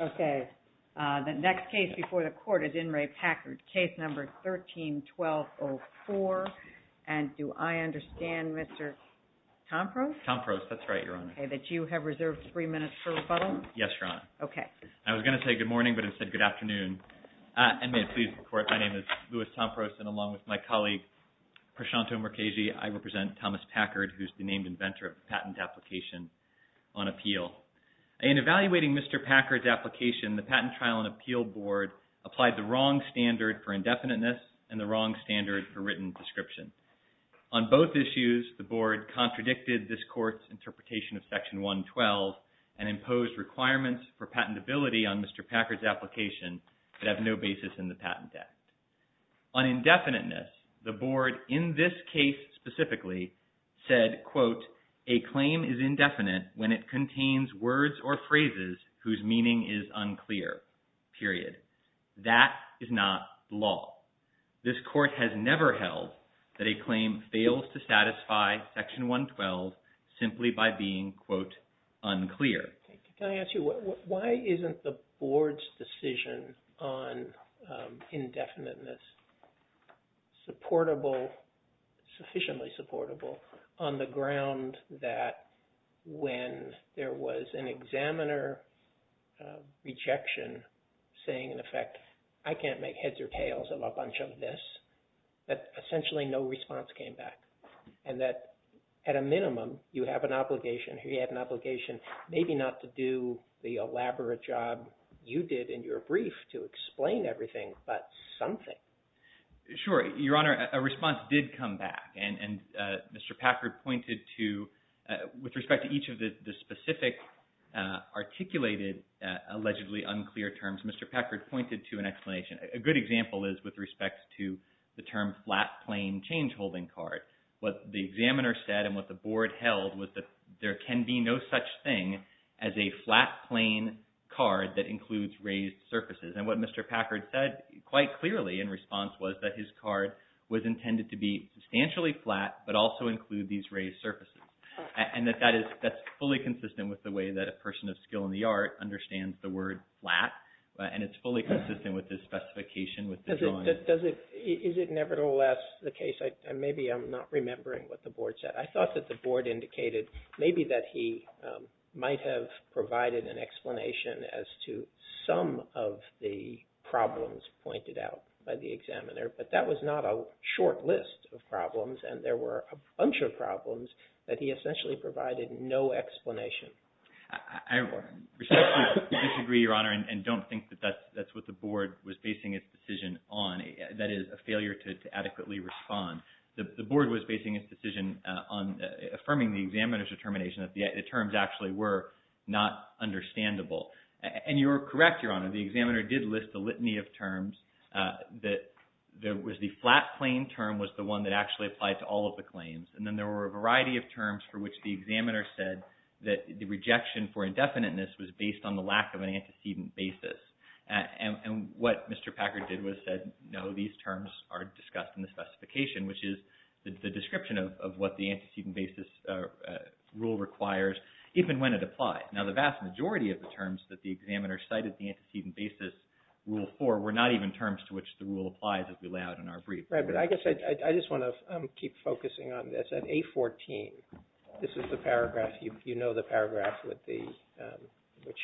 Okay, the next case before the court is IN RE PACKARD, case number 13-1204, and do I have your name on the record, Mr. Tompros? Tompros. That's right, Your Honor. Okay, that you have reserved three minutes for rebuttal? Yes, Your Honor. Okay. I was going to say good morning, but instead, good afternoon. And may it please the Court, my name is Louis Tompros, and along with my colleague, Prashantho Murkheshi, I represent Thomas Packard, who is the named inventor of the patent application on appeal. In evaluating Mr. Packard's application, the Patent Trial and Appeal Board applied the wrong standard for indefiniteness and the wrong standard for written description. On both issues, the Board contradicted this Court's interpretation of Section 112 and imposed requirements for patentability on Mr. Packard's application that have no basis in the Patent Act. On indefiniteness, the Board, in this case specifically, said, quote, a claim is indefinite when it contains words or phrases whose meaning is unclear, period. That is not law. This Court has never held that a claim fails to satisfy Section 112 simply by being, quote, unclear. Thank you. Can I ask you, why isn't the Board's decision on indefiniteness supportable, sufficiently supportable on the ground that when there was an examiner rejection saying, in effect, I can't make heads or tails of a bunch of this, that essentially no response came back and that, at a minimum, you have an obligation, he had an obligation maybe not to do the elaborate job you did in your brief to explain everything, but something? Sure. Your Honor, a response did come back, and Mr. Packard pointed to, with respect to each of the specific articulated allegedly unclear terms, Mr. Packard pointed to an explanation. A good example is with respect to the term flat plain change holding card. What the examiner said and what the Board held was that there can be no such thing as a flat plain card that includes raised surfaces, and what Mr. Packard said quite clearly in response was that his card was intended to be substantially flat but also include these raised surfaces. And that that is fully consistent with the way that a person of skill in the art understands the word flat, and it's fully consistent with his specification with the drawing. Is it nevertheless the case, and maybe I'm not remembering what the Board said, I thought that the Board indicated maybe that he might have provided an explanation as to some of the problems pointed out by the examiner, but that was not a short list of problems and there were a bunch of problems that he essentially provided no explanation for. I respectfully disagree, Your Honor, and don't think that that's what the Board was basing its decision on, that is a failure to adequately respond. The Board was basing its decision on affirming the examiner's determination that the terms actually were not understandable, and you're correct, Your Honor, the examiner did list a litany of terms that there was the flat claim term was the one that actually applied to all of the claims, and then there were a variety of terms for which the examiner said that the rejection for indefiniteness was based on the lack of an antecedent basis. And what Mr. Packard did was said, no, these terms are discussed in the specification, which is the description of what the antecedent basis rule requires even when it applies. Now, the vast majority of the terms that the examiner cited in the antecedent basis rule 4 were not even terms to which the rule applies as we lay out in our brief. Right, but I guess I just want to keep focusing on this. At A14, this is the paragraph, you know the paragraph which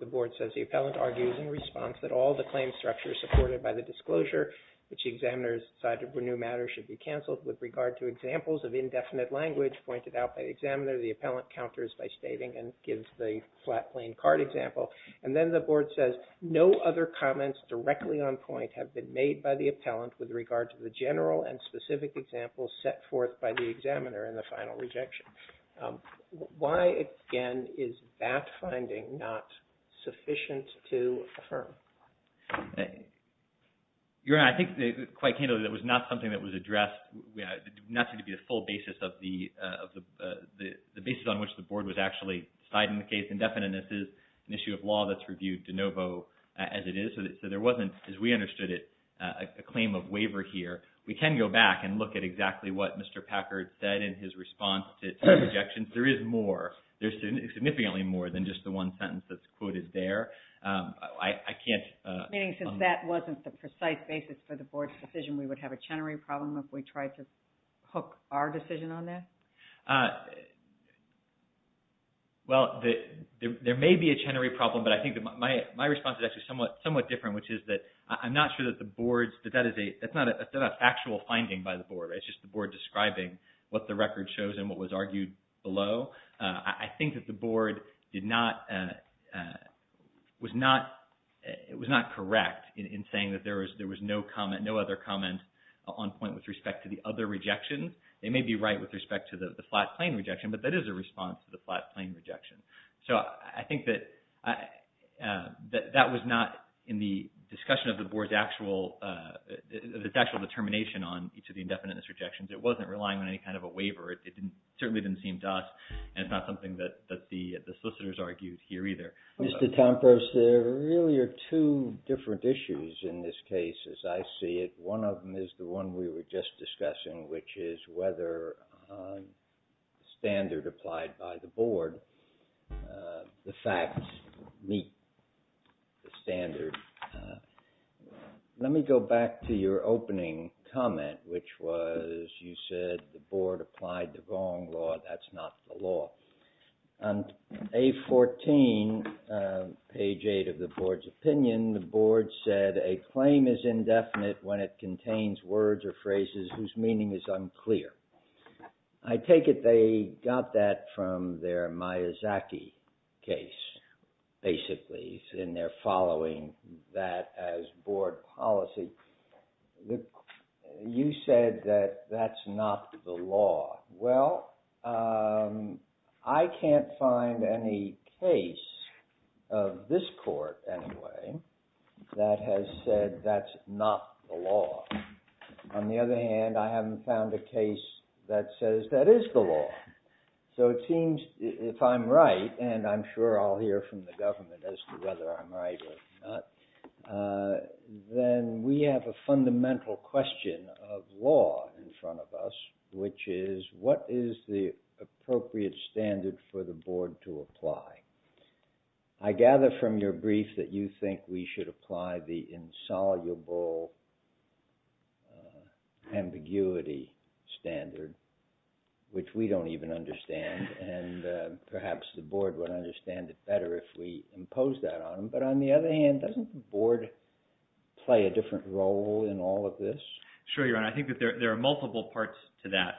the Board says, the appellant argues in response that all the claim structures supported by the disclosure which examiners decided were new matters should be canceled with regard to examples of indefinite language pointed out by the examiner. The appellant counters by stating and gives the flat plain card example. And then the Board says, no other comments directly on point have been made by the appellant with regard to the general and specific examples set forth by the examiner in the final rejection. Why, again, is that finding not sufficient to affirm? Your Honor, I think quite candidly that was not something that was addressed, nothing to be a full basis of the basis on which the Board was actually citing the case. Indefiniteness is an issue of law that's reviewed de novo as it is. So there wasn't, as we understood it, a claim of waiver here. We can go back and look at exactly what Mr. Packard said in his response to the objections. There is more, there's significantly more than just the one sentence that's quoted there. I can't... Meaning since that wasn't the precise basis for the Board's decision, we would have a Chenery problem if we tried to hook our decision on that? Well, there may be a Chenery problem, but I think that my response is actually somewhat different, which is that I'm not sure that the Board's, that that is a, that's not a factual finding by the Board. It's just the Board describing what the record shows and what was argued below. I think that the Board did not, was not, it was not correct in saying that there was no comment, no other comment on point with respect to the other rejections. They may be right with respect to the flat plain rejection, but that is a response to the flat plain rejection. So I think that that was not in the discussion of the Board's actual, its actual determination on each of the indefiniteness rejections. It wasn't relying on any kind of a waiver. It certainly didn't seem to us, and it's not something that the solicitors argued here either. Mr. Kampos, there really are two different issues in this case, as I see it. One of them is the one we were just discussing, which is whether standard applied by the Board, the facts meet the standard. Let me go back to your opening comment, which was you said the Board applied the wrong law. That's not the law. On page 14, page 8 of the Board's opinion, the Board said, a claim is indefinite when it contains words or phrases whose meaning is unclear. I take it they got that from their Miyazaki case, basically, in their following that as Board policy. You said that that's not the law. Well, I can't find any case of this Court, anyway, that has said that's not the law. On the other hand, I haven't found a case that says that is the law. So it seems if I'm right, and I'm sure I'll hear from the government as to whether I'm right or not, then we have a fundamental question of law in front of us, which is what is the appropriate standard for the Board to apply? I gather from your brief that you think we should apply the insoluble ambiguity standard, which we don't even understand, and perhaps the Board would understand it better if we impose that on them. But on the other hand, doesn't the Board play a different role in all of this? Sure, Your Honor. I think that there are multiple parts to that.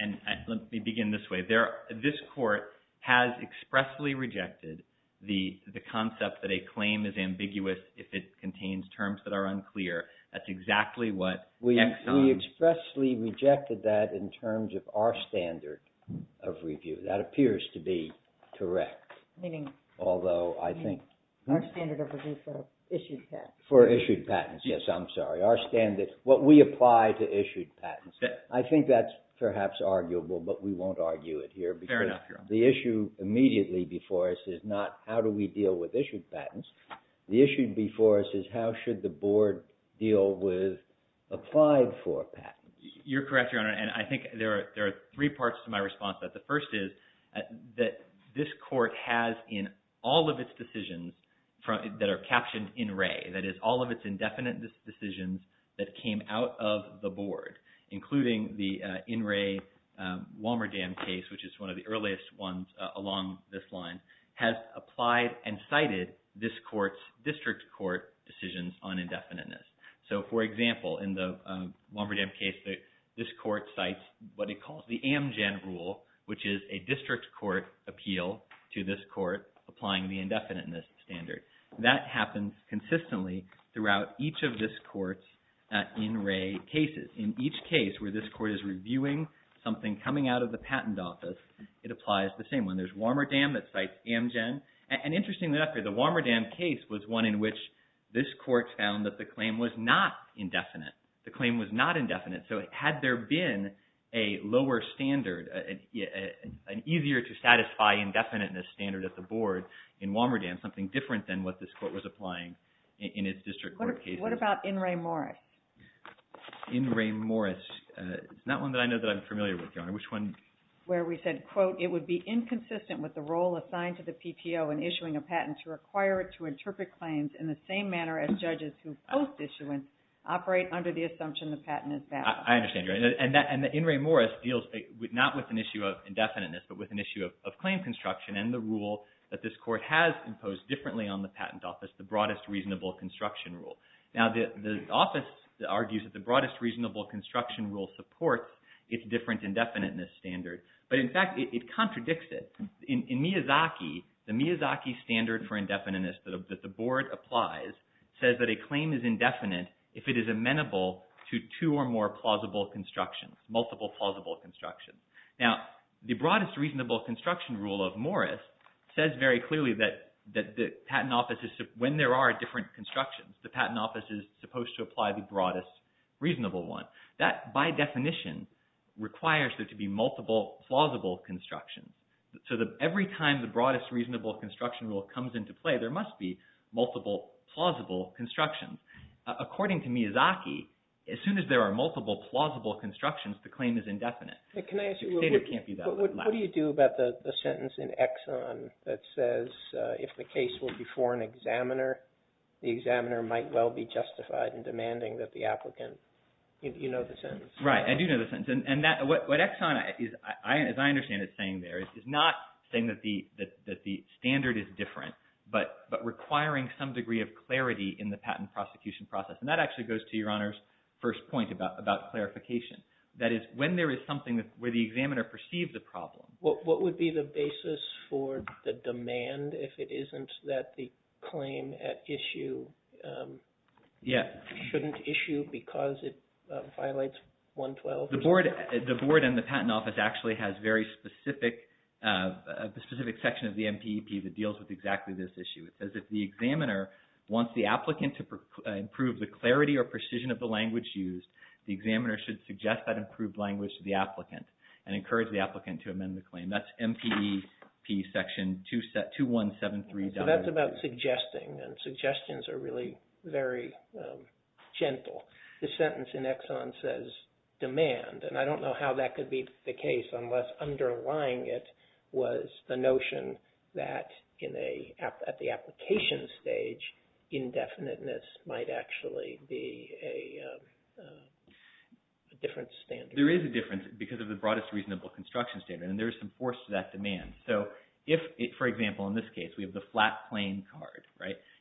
And let me begin this way. This Court has expressly rejected the concept that a claim is ambiguous if it contains terms that are unclear. That's exactly what... We expressly rejected that in terms of our standard of review. That appears to be correct, although I think... Our standard of review for issued patents. For issued patents, yes, I'm sorry. Our standard, what we apply to issued patents. I think that's perhaps arguable, but we won't argue it here. Fair enough, Your Honor. The issue immediately before us is not how do we deal with issued patents. The issue before us is how should the Board deal with applied for patents. You're correct, Your Honor, and I think there are three parts to my response to that. The first is that this Court has in all of its decisions that are captioned in Ray, that is all of its indefinite decisions that came out of the Board, including the in Ray Walmerdam case, which is one of the earliest ones along this line, has applied and cited this Court's district court decisions on indefiniteness. So, for example, in the Walmerdam case, this Court cites what it calls the Amgen Rule, which is a district court appeal to this Court applying the indefiniteness standard. That happens consistently throughout each of this Court's in Ray cases. In each case where this Court is reviewing something coming out of the patent office, it applies the same one. There's Walmerdam that cites Amgen. And interestingly enough, the Walmerdam case was one in which this Court found that the claim was not indefinite. The claim was not indefinite. So had there been a lower standard, an easier to satisfy indefiniteness standard at the Board in Walmerdam, something different than what this Court was applying in its district court cases. What about in Ray Morris? In Ray Morris. It's not one that I know that I'm familiar with, Your Honor. Which one? Where we said, quote, it would be inconsistent with the role assigned to the PTO in issuing a patent to require it to interpret claims in the same manner as judges who post issuance operate under the assumption the patent is valid. I understand, Your Honor. And in Ray Morris deals not with an issue of indefiniteness, but with an issue of claim construction and the rule that this Court has imposed differently on the patent office, the broadest reasonable construction rule. Now the office argues that the broadest reasonable construction rule supports its different indefiniteness standard. But in fact, it contradicts it. In Miyazaki, the Miyazaki standard for indefiniteness that the Board applies says that a claim is indefinite if it is amenable to two or more plausible constructions, multiple plausible constructions. Now the broadest reasonable construction rule of Morris says very clearly that the patent office, when there are different constructions, the patent office is supposed to apply the broadest reasonable one. That, by definition, requires there to be multiple plausible constructions. So every time the broadest reasonable construction rule comes into play, there must be multiple plausible constructions. According to Miyazaki, as soon as there are multiple plausible constructions, the claim is indefinite. Can I ask you, what do you do about the sentence in Exxon that says if the case were before an examiner, the examiner might well be justified in demanding that the applicant, you know the sentence. Right, I do know the sentence. And what Exxon, as I understand it, is saying there is not saying that the standard is different, but requiring some degree of clarity in the patent prosecution process. And that actually goes to Your Honor's first point about clarification. That is, when there is something where the examiner perceives a problem. What would be the basis for the demand if it isn't that the claim at issue shouldn't issue because it violates 112? The board and the patent office actually has a very specific section of the MPEP that deals with exactly this issue. It says if the examiner wants the applicant to improve the clarity or precision of the language used, the examiner should suggest that improved language to the applicant and encourage the applicant to amend the claim. That's MPEP section 2173. So that's about suggesting, and suggestions are really very gentle. The sentence in Exxon says demand, and I don't know how that could be the case unless underlying it was the notion that at the application stage, indefiniteness might actually be a different standard. There is a difference because of the broadest reasonable construction standard, and there is some force to that demand. So if, for example, in this case, we have the flat plain card.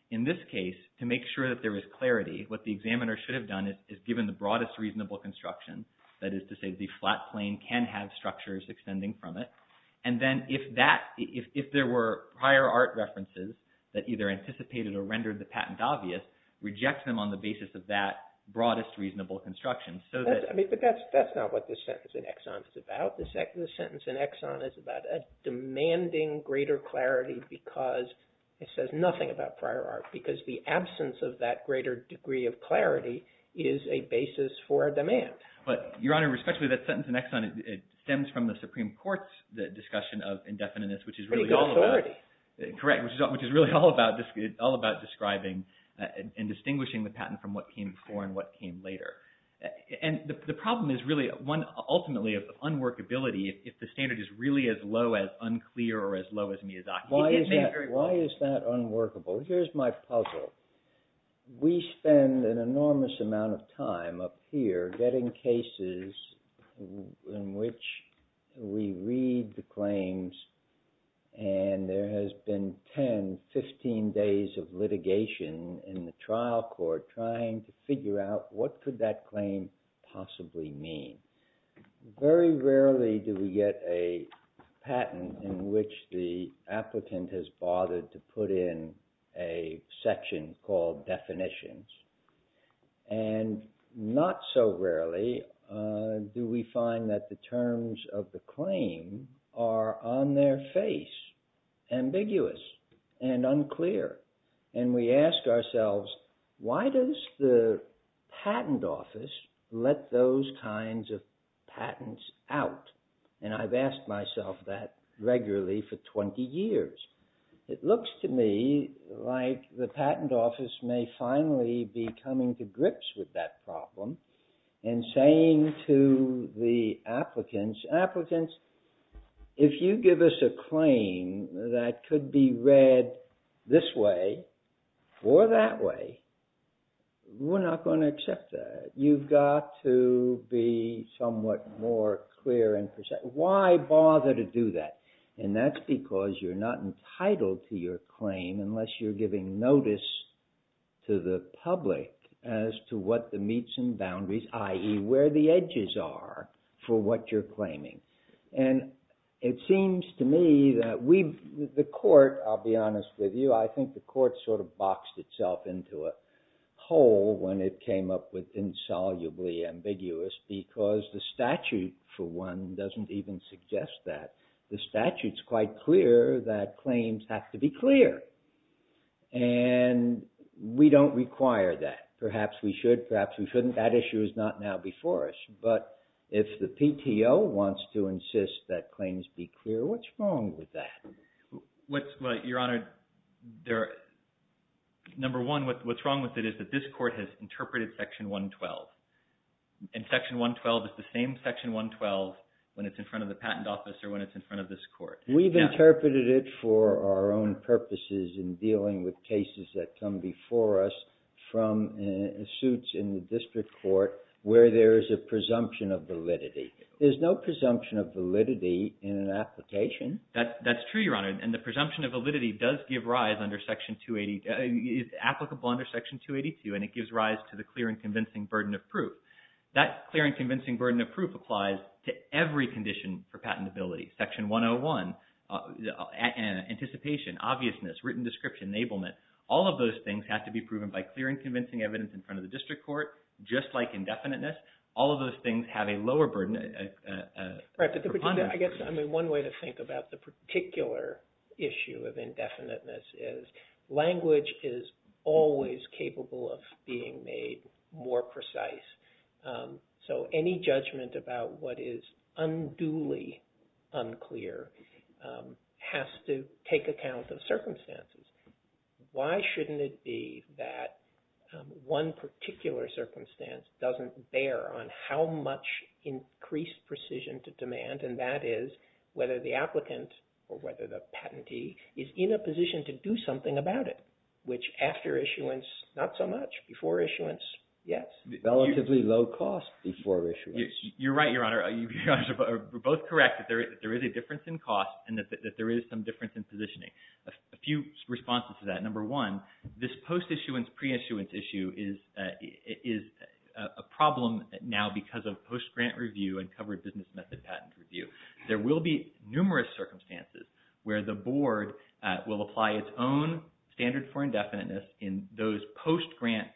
In this case, to make sure that there is clarity, what the examiner should have done is given the broadest reasonable construction. That is to say the flat plain can have structures extending from it. And then if there were prior art references that either anticipated or rendered the patent obvious, reject them on the basis of that broadest reasonable construction. But that's not what the sentence in Exxon is about. The sentence in Exxon is about a demanding greater clarity because it says nothing about prior art, because the absence of that greater degree of clarity is a basis for demand. Your Honor, respectfully, that sentence in Exxon stems from the Supreme Court's discussion of indefiniteness, which is really all about describing and distinguishing the patent from what came before and what came later. And the problem is really one ultimately of unworkability if the standard is really as low as unclear or as low as Miyazaki. Why is that unworkable? Here's my puzzle. We spend an enormous amount of time up here getting cases in which we read the claims and there has been 10, 15 days of litigation in the trial court trying to figure out what could that claim possibly mean. Very rarely do we get a patent in which the applicant has bothered to put in a section called definitions. And not so rarely do we find that the terms of the claim are on their face, ambiguous and unclear. And we ask ourselves, why does the patent office let those kinds of patents out? And I've asked myself that regularly for 20 years. It looks to me like the patent office may finally be coming to grips with that problem and saying to the applicants, if you give us a claim that could be read this way or that way, we're not going to accept that. You've got to be somewhat more clear and precise. Why bother to do that? And that's because you're not entitled to your claim unless you're giving notice to the public as to what the meets and boundaries, i.e. where the edges are for what you're claiming. And it seems to me that the court, I'll be honest with you, I think the court sort of boxed itself into a hole when it came up with insolubly ambiguous because the statute for one doesn't even suggest that. The statute's quite clear that claims have to be clear. And we don't require that. Perhaps we should, perhaps we shouldn't. That issue is not now before us. But if the PTO wants to insist that claims be clear, what's wrong with that? Your Honor, number one, what's wrong with it is that this court has interpreted Section 112. And Section 112 is the same Section 112 when it's in front of the patent office or when it's in front of this court. We've interpreted it for our own purposes in dealing with cases that come before us from suits in the district court where there is a presumption of validity. There's no presumption of validity in an application. That's true, Your Honor. And the presumption of validity does give rise under Section 280, is applicable under Section 282 and it gives rise to the clear and convincing burden of proof. That clear and convincing burden of proof applies to every condition for patentability. Section 101, anticipation, obviousness, written description, enablement, all of those things have to be proven by clear and convincing evidence in front of the district court. Just like indefiniteness, all of those things have a lower burden. One way to think about the particular issue of indefiniteness is language is always capable of being made more precise. So any judgment about what is unduly unclear has to take account of circumstances. Why shouldn't it be that one particular circumstance doesn't bear on how much increased precision to demand and that is whether the applicant or whether the patentee is in a position to do something about it, which after issuance, not so much. Before issuance, yes. Relatively low cost before issuance. You're right, Your Honor. We're both correct that there is a difference in cost and that there is some difference in positioning. A few responses to that. Number one, this post-issuance, pre-issuance issue is a problem now because of post-grant review and covered business method patent review. There will be numerous circumstances where the board will apply its own standard for indefiniteness in those post-grant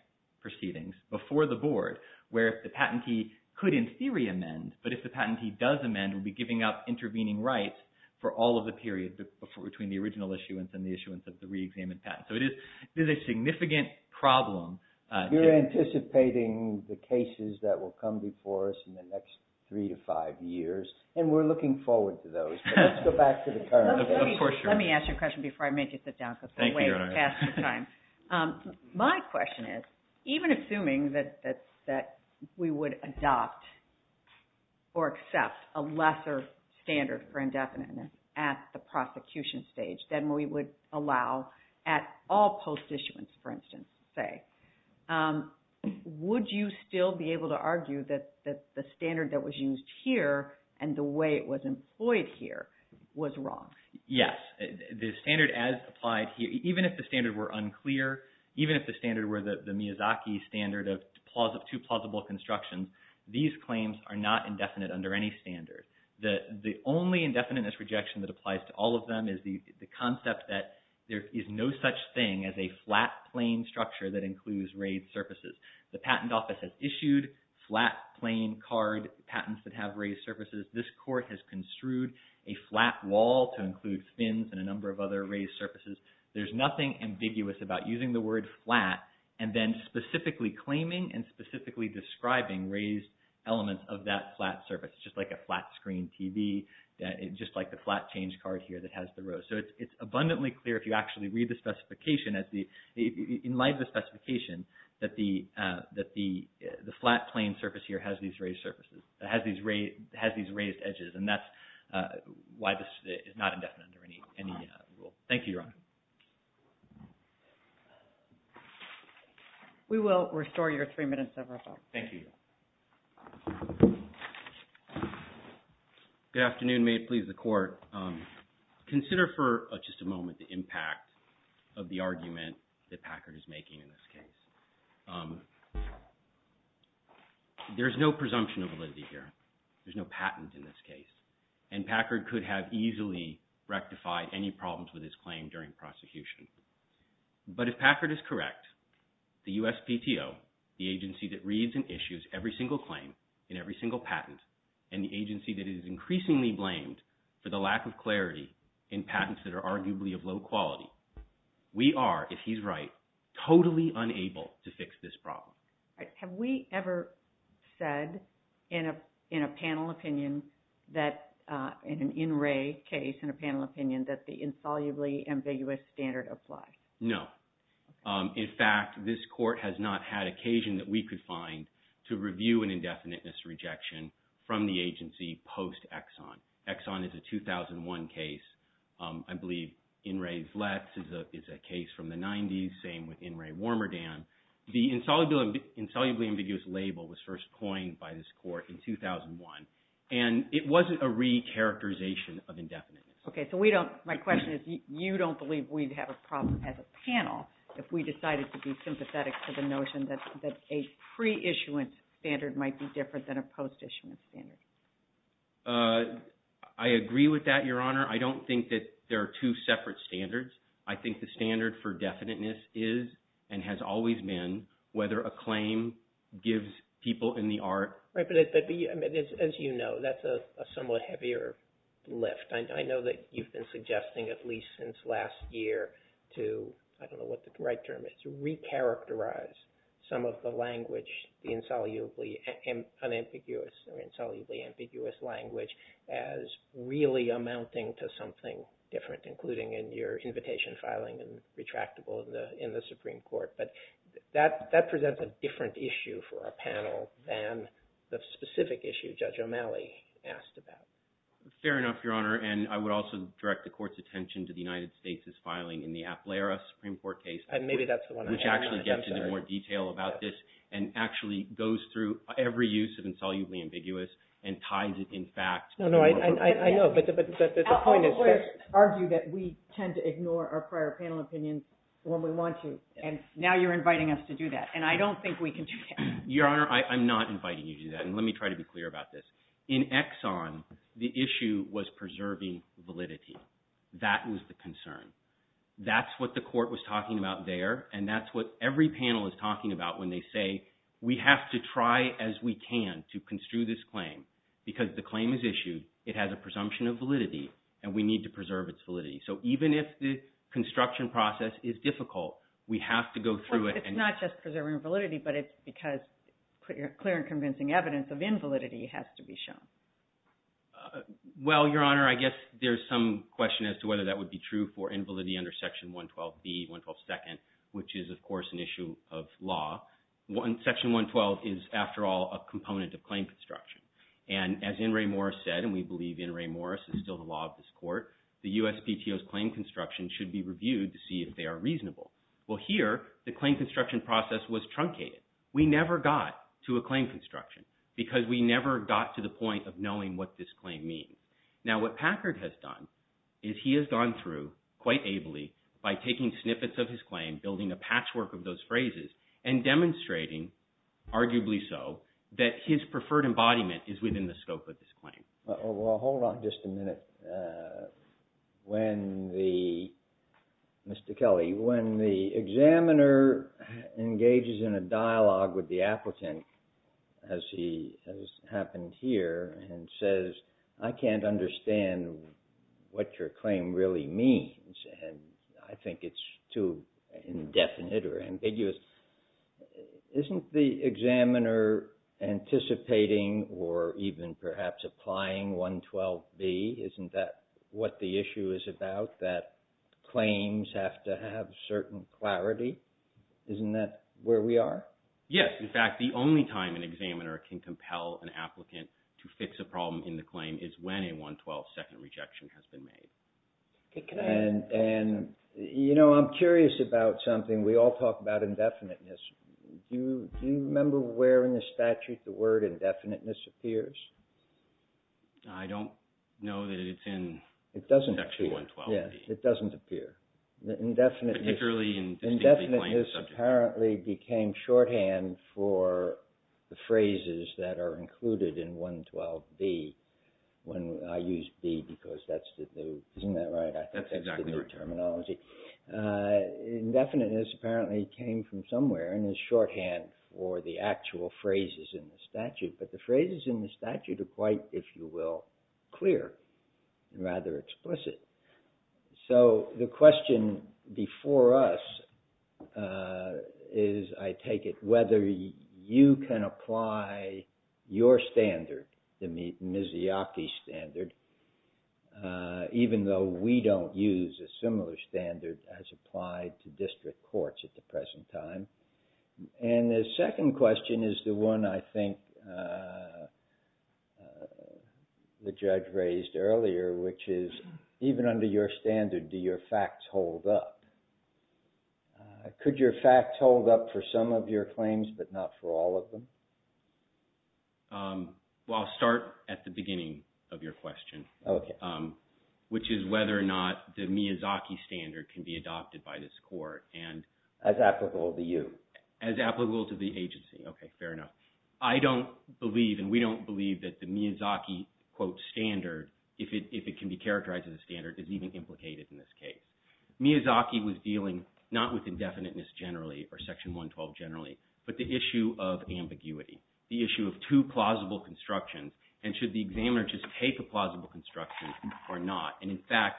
proceedings before the board where the patentee could in theory amend, but if the patentee does amend, will be giving up intervening rights for all of the period between the original issuance and the issuance of the reexamined patent. So it is a significant problem. You're anticipating the cases that will come before us in the next three to five years and we're looking forward to those, but let's go back to the current. Let me ask you a question before I make you sit down because we're way past your time. Thank you, Your Honor. My question is, even assuming that we would adopt or accept a lesser standard for indefiniteness at the prosecution stage than we would allow at all post-issuance, for instance, say, would you still be able to argue that the standard that was used here and the way it was employed here was wrong? Yes. The standard as applied here, even if the standard were unclear, even if the standard were the Miyazaki standard of two plausible constructions, these claims are not indefinite under any standard. The only indefiniteness rejection that applies to all of them is the concept that there is no such thing as a flat plain structure that includes raised surfaces. The patent office has issued flat plain card patents that have raised surfaces. This court has construed a flat wall to include fins and a number of other raised surfaces. There's nothing ambiguous about using the word flat and then specifically claiming and specifically describing raised elements of that flat surface, just like a flat screen TV, just like the flat change card here that has the rose. So it's abundantly clear if you actually read the specification, in light of the specification, that the flat plain surface here has these raised surfaces, has these raised edges, and that's why this is not indefinite under any rule. Thank you, Your Honor. We will restore your three minutes of reference. Thank you. Good afternoon. May it please the Court. Consider for just a moment the impact of the argument that Packard is making in this case. There's no presumption of validity here. There's no patent in this case. And Packard could have easily rectified any problems with his claim during prosecution. But if Packard is correct, the USPTO, the agency that reads and issues every single claim and every single patent, and the agency that is increasingly blamed for the lack of clarity in patents that are arguably of low quality, we are, if he's right, totally unable to fix this problem. Have we ever said in a panel opinion, in an in-ray case in a panel opinion, that the insolubly ambiguous standard applies? No. In fact, this Court has not had occasion that we could find to review an indefiniteness rejection from the agency post-Exxon. Exxon is a 2001 case. I believe In Re Vlets is a case from the 90s, same with In Re Warmerdam. The insolubly ambiguous label was first coined by this Court in 2001, and it wasn't a re-characterization of indefiniteness. Okay, so my question is, you don't believe we'd have a problem as a panel if we decided to be sympathetic to the notion that a pre-issuance standard might be different than a post-issuance standard? I agree with that, Your Honor. I don't think that there are two separate standards. I think the standard for definiteness is, and has always been, whether a claim gives people in the art... Right, but as you know, that's a somewhat heavier lift. I know that you've been suggesting, at least since last year, to, I don't know what the right term is, re-characterize some of the language, the insolubly unambiguous or insolubly ambiguous language, as really amounting to something different, including in your invitation filing and retractable in the Supreme Court. But that presents a different issue for our panel than the specific issue Judge O'Malley asked about. Fair enough, Your Honor, and I would also direct the Court's attention to the United States' filing in the Aplera Supreme Court case, which actually gets into more detail about this and actually goes through every use of insolubly ambiguous and ties it, in fact... No, no, I know, but the point is... I'll argue that we tend to ignore our prior panel opinions when we want to, and now you're inviting us to do that, and I don't think we can do that. Your Honor, I'm not inviting you to do that, and let me try to be clear about this. In Exxon, the issue was preserving validity. That was the concern. That's what the Court was talking about there, and that's what every panel is talking about when they say we have to try as we can to construe this claim because the claim is issued, it has a presumption of validity, and we need to preserve its validity. So even if the construction process is difficult, we have to go through it and... Well, it's not just preserving validity, but it's because clear and convincing evidence of invalidity has to be shown. Well, Your Honor, I guess there's some question as to whether that would be true for invalidity under Section 112B, 1122nd, which is, of course, an issue of law. Section 112 is, after all, a component of claim construction, and as N. Ray Morris said, and we believe N. Ray Morris is still the law of this Court, the USPTO's claim construction should be reviewed to see if they are reasonable. Well, here, the claim construction process was truncated. We never got to a claim construction because we never got to the point of knowing what this claim means. Now, what Packard has done is he has gone through quite ably by taking snippets of his claim, building a patchwork of those phrases, and demonstrating, arguably so, that his preferred embodiment is within the scope of this claim. Well, hold on just a minute. Mr. Kelly, when the examiner engages in a dialogue with the applicant, as has happened here, and says, I can't understand what your claim really means, and I think it's too indefinite or ambiguous, isn't the examiner anticipating or even perhaps applying 112B? Isn't that what the issue is about, that claims have to have certain clarity? Isn't that where we are? Yes. In fact, the only time an examiner can compel an applicant to fix a problem in the claim is when a 112 second rejection has been made. And, you know, I'm curious about something. We all talk about indefiniteness. Do you remember where in the statute the word indefiniteness appears? I don't know that it's in section 112B. It doesn't appear. Particularly in distinctly claimed subjects. Indefiniteness apparently became shorthand for the phrases that are included in 112B, when I use B because that's the, isn't that right? That's exactly right. I think that's the terminology. Indefiniteness apparently came from somewhere and is shorthand for the actual phrases in the statute. But the phrases in the statute are quite, if you will, clear and rather explicit. So the question before us is, I take it, whether you can apply your standard, the Miziaki standard, even though we don't use a similar standard as applied to district courts at the present time. And the second question is the one I think the judge raised earlier, which is even under your standard, do your facts hold up? Could your facts hold up for some of your claims but not for all of them? Well, I'll start at the beginning of your question, which is whether or not the Miziaki standard can be adopted by this court. As applicable to you. As applicable to the agency. Okay, fair enough. I don't believe and we don't believe that the Miziaki, quote, standard, if it can be characterized as a standard, is even implicated in this case. Miziaki was dealing not with indefiniteness generally or Section 112 generally, but the issue of ambiguity, the issue of two plausible constructions and should the examiner just take a plausible construction or not. And, in fact,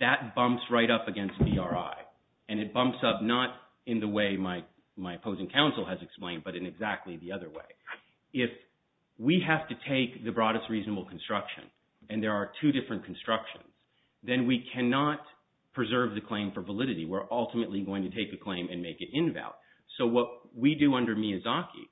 that bumps right up against ERI. And it bumps up not in the way my opposing counsel has explained, but in exactly the other way. If we have to take the broadest reasonable construction and there are two different constructions, then we cannot preserve the claim for validity. We're ultimately going to take a claim and make it invalid. So what we do under Miziaki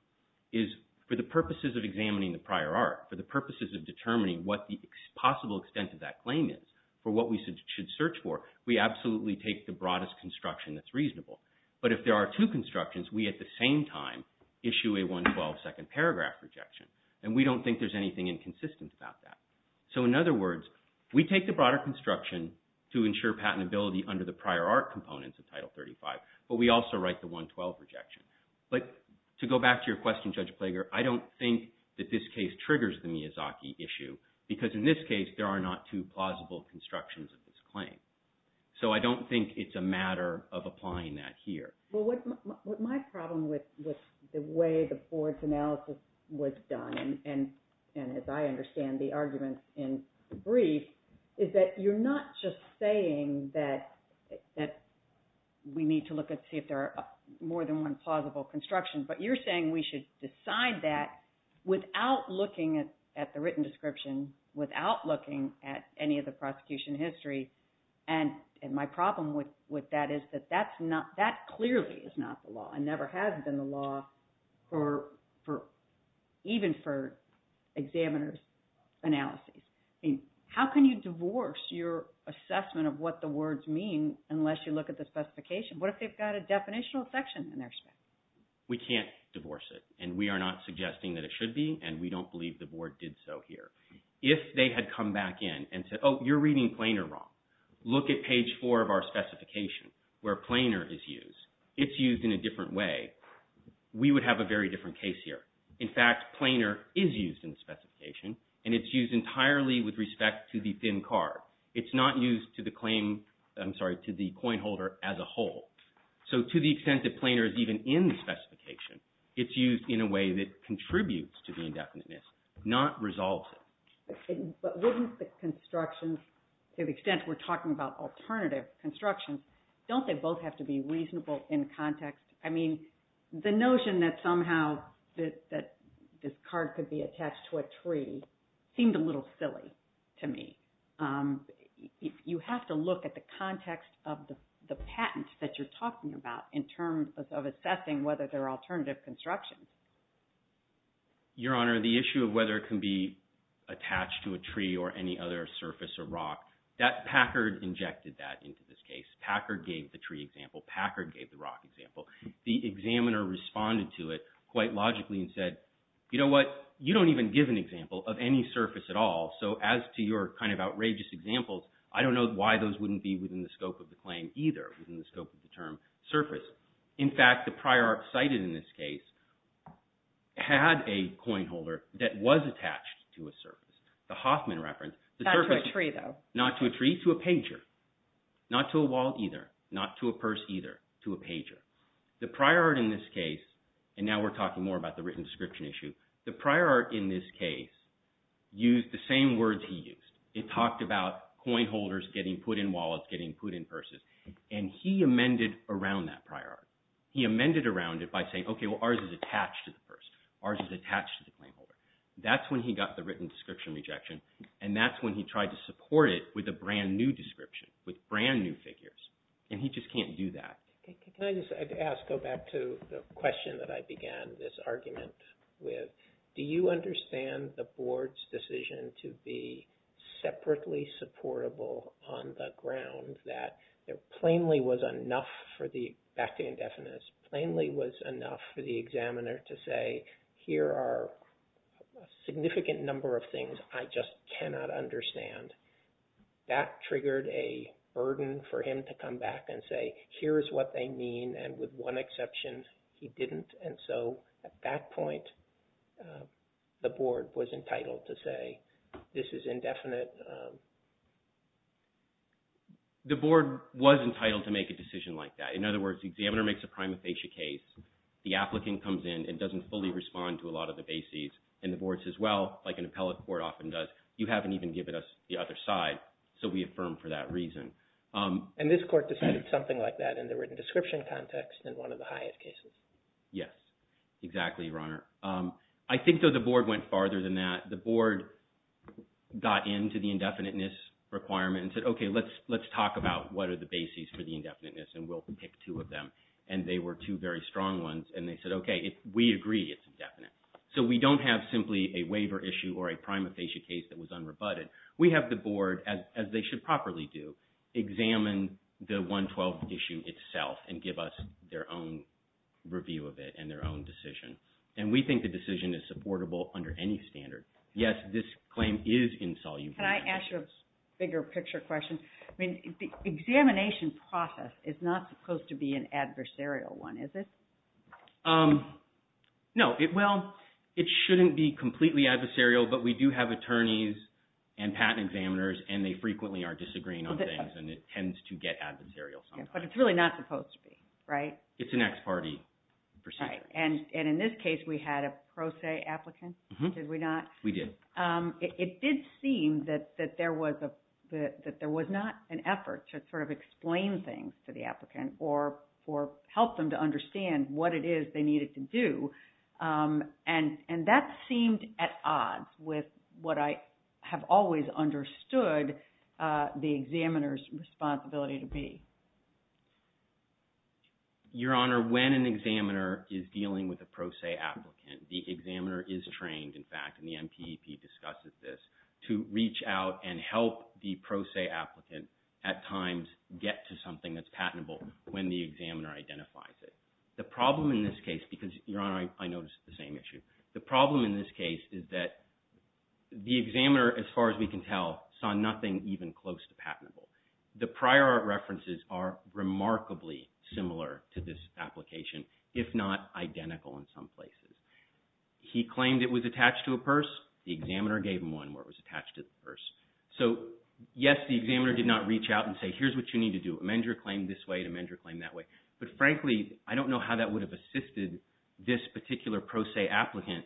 is for the purposes of examining the prior art, for the purposes of determining what the possible extent of that claim is, for what we should search for, we absolutely take the broadest construction that's reasonable. But if there are two constructions, we at the same time issue a 112-second paragraph rejection. And we don't think there's anything inconsistent about that. So, in other words, we take the broader construction to ensure patentability under the prior art components of Title 35, but we also write the 112 rejection. But to go back to your question, Judge Plager, I don't think that this case triggers the Miziaki issue because in this case there are not two plausible constructions of this claim. So I don't think it's a matter of applying that here. Well, my problem with the way the board's analysis was done and as I understand the arguments in the brief is that you're not just saying that we need to look and see if there are more than one plausible construction, but you're saying we should decide that without looking at the written description, without looking at any of the prosecution history. And my problem with that is that that clearly is not the law and never has been the law, even for examiner's analyses. How can you divorce your assessment of what the words mean unless you look at the specification? What if they've got a definitional section in there? We can't divorce it and we are not suggesting that it should be and we don't believe the board did so here. If they had come back in and said, oh, you're reading planar wrong. Look at page four of our specification where planar is used. It's used in a different way. We would have a very different case here. In fact, planar is used in the specification and it's used entirely with respect to the thin card. It's not used to the claim, I'm sorry, to the coin holder as a whole. So to the extent that planar is even in the specification, it's used in a way that contributes to the indefiniteness, not resolves it. But wouldn't the construction, to the extent we're talking about alternative construction, don't they both have to be reasonable in context? I mean, the notion that somehow this card could be attached to a tree seemed a little silly to me. You have to look at the context of the patent that you're talking about in terms of assessing whether there are alternative constructions. Your Honor, the issue of whether it can be attached to a tree or any other surface or rock, Packard injected that into this case. Packard gave the tree example. Packard gave the rock example. The examiner responded to it quite logically and said, you know what? You don't even give an example of any surface at all. So as to your kind of outrageous examples, I don't know why those wouldn't be within the scope of the claim either, within the scope of the term surface. In fact, the prior art cited in this case had a coin holder that was attached to a surface, the Hoffman reference. Not to a tree, though. Not to a tree, to a pager. Not to a wall either, not to a purse either, to a pager. The prior art in this case, and now we're talking more about the written description issue, the prior art in this case used the same words he used. It talked about coin holders getting put in wallets, getting put in purses, and he amended around that prior art. He amended around it by saying, okay, well, ours is attached to the purse. Ours is attached to the coin holder. That's when he got the written description rejection, and that's when he tried to support it with a brand-new description, with brand-new figures, and he just can't do that. Can I just go back to the question that I began this argument with? Do you understand the board's decision to be separately supportable on the ground that there plainly was enough for the, back to indefinites, plainly was enough for the examiner to say, here are a significant number of things I just cannot understand. That triggered a burden for him to come back and say, here is what they mean, and with one exception, he didn't. And so at that point, the board was entitled to say, this is indefinite. The board was entitled to make a decision like that. In other words, the examiner makes a prima facie case. The applicant comes in and doesn't fully respond to a lot of the bases, and the board says, well, like an appellate court often does, you haven't even given us the other side, so we affirm for that reason. And this court decided something like that in the written description context in one of the highest cases? Yes, exactly, Your Honor. I think, though, the board went farther than that. The board got into the indefiniteness requirement and said, okay, let's talk about what are the bases for the indefiniteness, and we'll pick two of them. And they were two very strong ones, and they said, okay, we agree it's indefinite. So we don't have simply a waiver issue or a prima facie case that was unrebutted. We have the board, as they should properly do, examine the 112 issue itself and give us their own review of it and their own decision. And we think the decision is supportable under any standard. Yes, this claim is insoluble. Can I ask you a bigger picture question? The examination process is not supposed to be an adversarial one, is it? No. Well, it shouldn't be completely adversarial, but we do have attorneys and patent examiners, and they frequently are disagreeing on things, and it tends to get adversarial sometimes. But it's really not supposed to be, right? It's an ex parte procedure. And in this case, we had a pro se applicant, did we not? We did. It did seem that there was not an effort to sort of explain things to the applicant or help them to understand what it is they needed to do. And that seemed at odds with what I have always understood the examiner's responsibility to be. Your Honor, when an examiner is dealing with a pro se applicant, the examiner is trained, in fact, and the NPEP discusses this, to reach out and help the pro se applicant at times get to something that's patentable when the examiner identifies it. The problem in this case, because, Your Honor, I noticed the same issue. The problem in this case is that the examiner, as far as we can tell, saw nothing even close to patentable. The prior art references are remarkably similar to this application, if not identical in some places. He claimed it was attached to a purse. The examiner gave him one where it was attached to the purse. So, yes, the examiner did not reach out and say, here's what you need to do. Amend your claim this way to amend your claim that way. But, frankly, I don't know how that would have assisted this particular pro se applicant,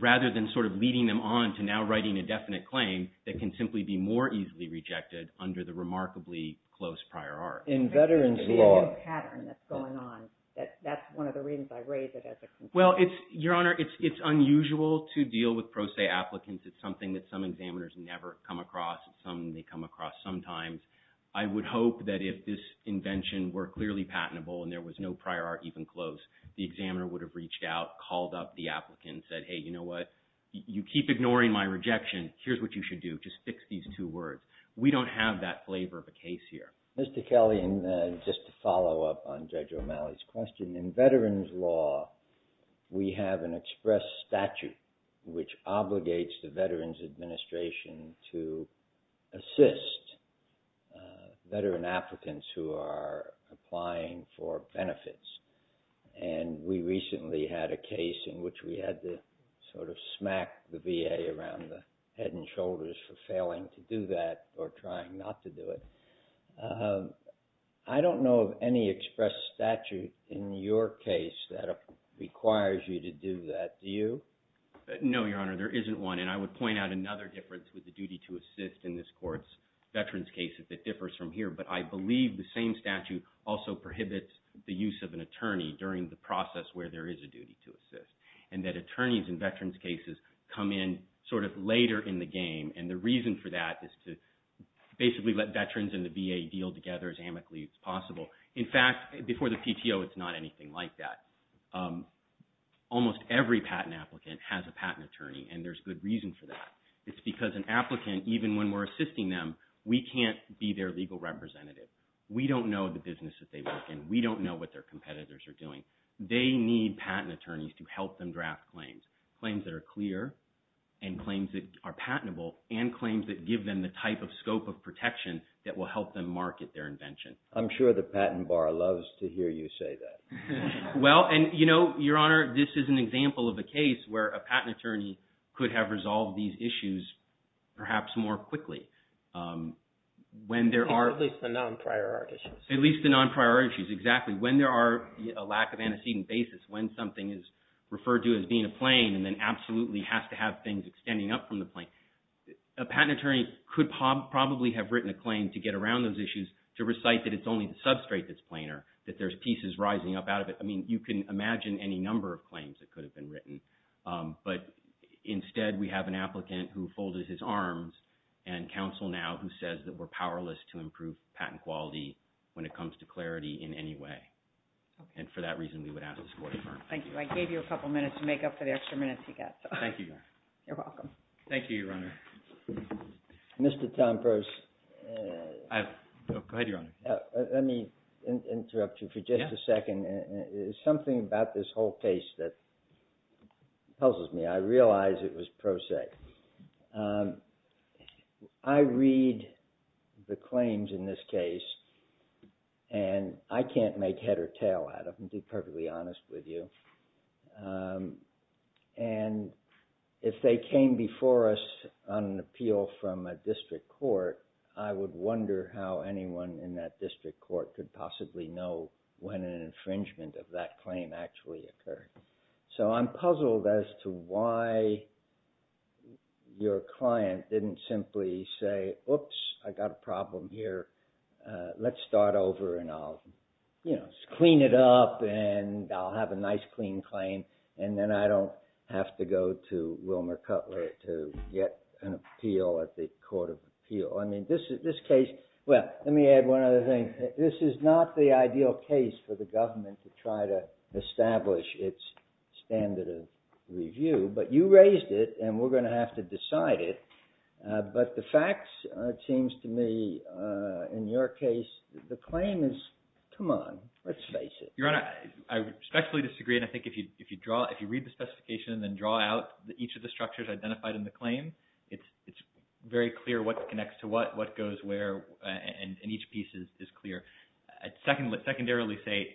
rather than sort of leading them on to now writing a definite claim that can simply be more easily rejected under the remarkably close prior art. In veterans law. The pattern that's going on, that's one of the reasons I raise it as a complaint. Well, Your Honor, it's unusual to deal with pro se applicants. It's something that some examiners never come across. It's something they come across sometimes. I would hope that if this invention were clearly patentable and there was no prior art even close, the examiner would have reached out, called up the applicant and said, hey, you know what, you keep ignoring my rejection. Here's what you should do. Just fix these two words. We don't have that flavor of a case here. Mr. Kelly, just to follow up on Judge O'Malley's question, in veterans law we have an express statute which obligates the Veterans Administration to assist veteran applicants who are applying for benefits. And we recently had a case in which we had to sort of smack the VA around the head and shoulders for failing to do that or trying not to do it. I don't know of any express statute in your case that requires you to do that. Do you? No, Your Honor. There isn't one. And I would point out another difference with the duty to assist in this court's veterans cases that differs from here. But I believe the same statute also prohibits the use of an attorney during the process where there is a duty to assist and that attorneys in veterans cases come in sort of later in the game. And the reason for that is to basically let veterans and the VA deal together as amicably as possible. In fact, before the PTO it's not anything like that. Almost every patent applicant has a patent attorney, and there's good reason for that. It's because an applicant, even when we're assisting them, we can't be their legal representative. We don't know the business that they work in. We don't know what their competitors are doing. They need patent attorneys to help them draft claims, claims that are clear and claims that are patentable and claims that give them the type of scope of protection that will help them market their invention. I'm sure the patent bar loves to hear you say that. Well, and you know, Your Honor, this is an example of a case where a patent attorney could have resolved these issues perhaps more quickly. At least the non-priority issues. At least the non-priority issues, exactly. When there are a lack of antecedent basis, when something is referred to as being a claim and then absolutely has to have things extending up from the claim. A patent attorney could probably have written a claim to get around those issues to recite that it's only the substrate that's planar, that there's pieces rising up out of it. I mean, you can imagine any number of claims that could have been written. But instead we have an applicant who folded his arms and counsel now who says that we're powerless to improve patent quality when it comes to clarity in any way. And for that reason we would have to support a firm. Thank you. I gave you a couple minutes to make up for the extra minutes you got. Thank you, Your Honor. You're welcome. Thank you, Your Honor. Mr. Tomprose. Go ahead, Your Honor. Let me interrupt you for just a second. There's something about this whole case that puzzles me. I realize it was pro sec. I read the claims in this case, and I can't make head or tail out of them, to be perfectly honest with you. And if they came before us on an appeal from a district court, I would wonder how anyone in that district court could possibly know when an infringement of that claim actually occurred. So I'm puzzled as to why your client didn't simply say, oops, I got a problem here. Let's start over and I'll, you know, clean it up and I'll have a nice clean claim and then I don't have to go to Wilmer Cutler to get an appeal at the court of appeal. I mean, this case, well, let me add one other thing. This is not the ideal case for the government to try to establish its standard of review, but you raised it and we're going to have to decide it. But the facts, it seems to me, in your case, the claim is, come on, let's face it. Your Honor, I respectfully disagree, and I think if you draw, if you read the specification and then draw out each of the structures identified in the claim, it's very clear what connects to what, what goes where, and each piece is clear. I secondarily say,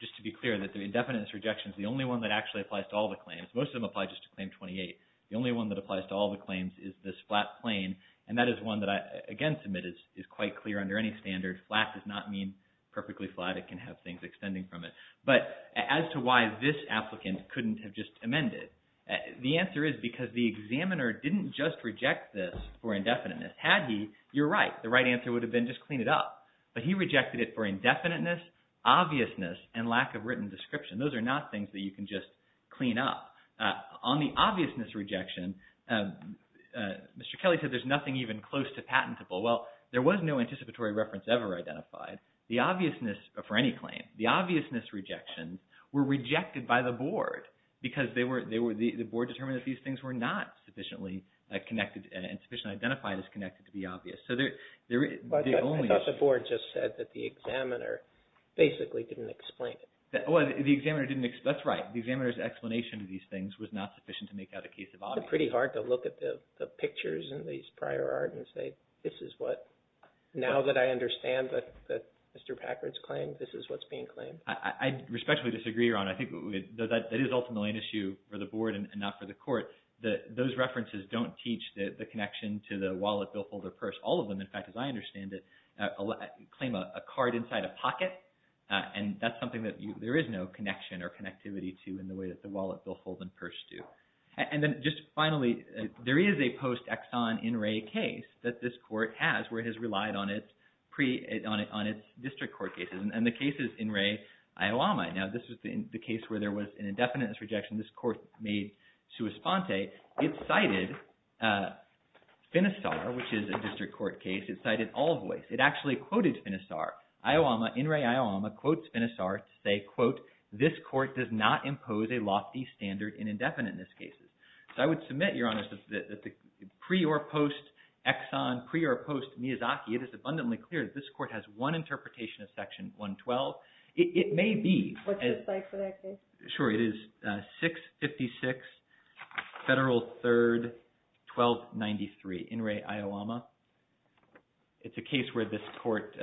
just to be clear, that the indefinite rejection is the only one that actually applies to all the claims. Most of them apply just to Claim 28. The only one that applies to all the claims is this flat plain, and that is one that I, again, submit is quite clear under any standard. Flat does not mean perfectly flat. It can have things extending from it. But as to why this applicant couldn't have just amended, the answer is because the examiner didn't just reject this for indefiniteness. Had he, you're right. The right answer would have been just clean it up. But he rejected it for indefiniteness, obviousness, and lack of written description. Those are not things that you can just clean up. On the obviousness rejection, Mr. Kelly said there's nothing even close to patentable. Well, there was no anticipatory reference ever identified. The obviousness for any claim, the obviousness rejections were rejected by the Board because they were, the Board determined that these things were not sufficiently connected and sufficiently identified as connected to be obvious. I thought the Board just said that the examiner basically didn't explain it. Well, the examiner didn't explain it. That's right. The examiner's explanation of these things was not sufficient to make that a case of obviousness. It's pretty hard to look at the pictures in these prior art and say, this is what, now that I understand that Mr. Packard's claim, this is what's being claimed. I respectfully disagree, Your Honor. I think that is ultimately an issue for the Board and not for the Court. Those references don't teach the connection to the wallet, billfold, or purse. All of them, in fact, as I understand it, claim a card inside a pocket. And that's something that there is no connection or connectivity to in the way that the wallet, billfold, and purse do. And then just finally, there is a post-Exxon in Ray case that this Court has where it has relied on its district court cases. And the case is in Ray, Iowa right now. This was the case where there was an indefinite rejection this Court made to Esponte. It cited Finisar, which is a district court case. It cited all voice. It actually quoted Finisar. Iowama, in Ray, Iowama, quotes Finisar to say, quote, this Court does not impose a lofty standard in indefinite in this case. So I would submit, Your Honor, that the pre or post-Exxon, pre or post-Miyazaki, it is abundantly clear that this Court has one interpretation of Section 112. It may be. What's the site for that case? Sure, it is 656 Federal 3rd, 1293, in Ray, Iowama. It's a case where this Court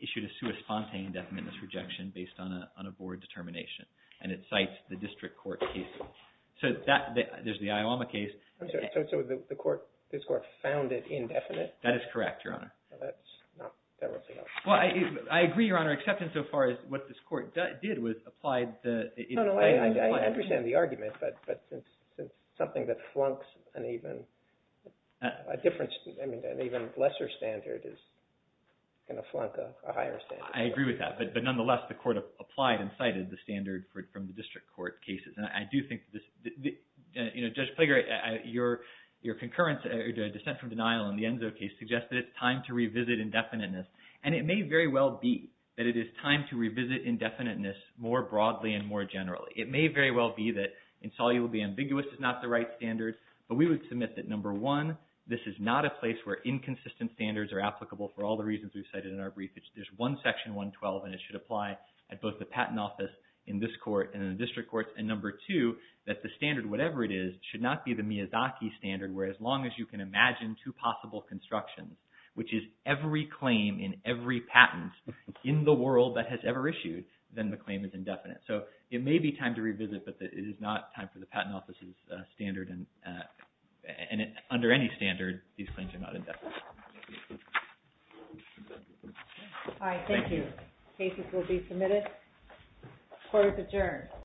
issued Esponte indefinite rejection based on a board determination. And it cites the district court case. So there's the Iowama case. So the Court, this Court, found it indefinite? That is correct, Your Honor. That's not federal. Well, I agree, Your Honor, except in so far as what this Court did was applied the indefinite. No, no, I understand the argument. But something that flunks an even lesser standard is going to flunk a higher standard. I agree with that. But nonetheless, the Court applied and cited the standard from the district court cases. And I do think this, Judge Plague, your concurrence to a dissent from denial in the Enzo case suggests that it's time to revisit indefiniteness. And it may very well be that it is time to revisit indefiniteness more broadly and more generally. It may very well be that insolubly ambiguous is not the right standard, but we would submit that number one, this is not a place where inconsistent standards are applicable for all the reasons we've cited in our brief. There's one section 112, and it should apply at both the Patent Office in this Court and in the district courts. And number two, that the standard, whatever it is, should not be the Miyazaki standard, where as long as you can imagine two possible constructions, which is every claim in every patent in the world that has ever issued, then the claim is indefinite. So it may be time to revisit, but it is not time for the Patent Office's standard. And under any standard, these claims are not indefinite. All right, thank you. Cases will be submitted. Court is adjourned.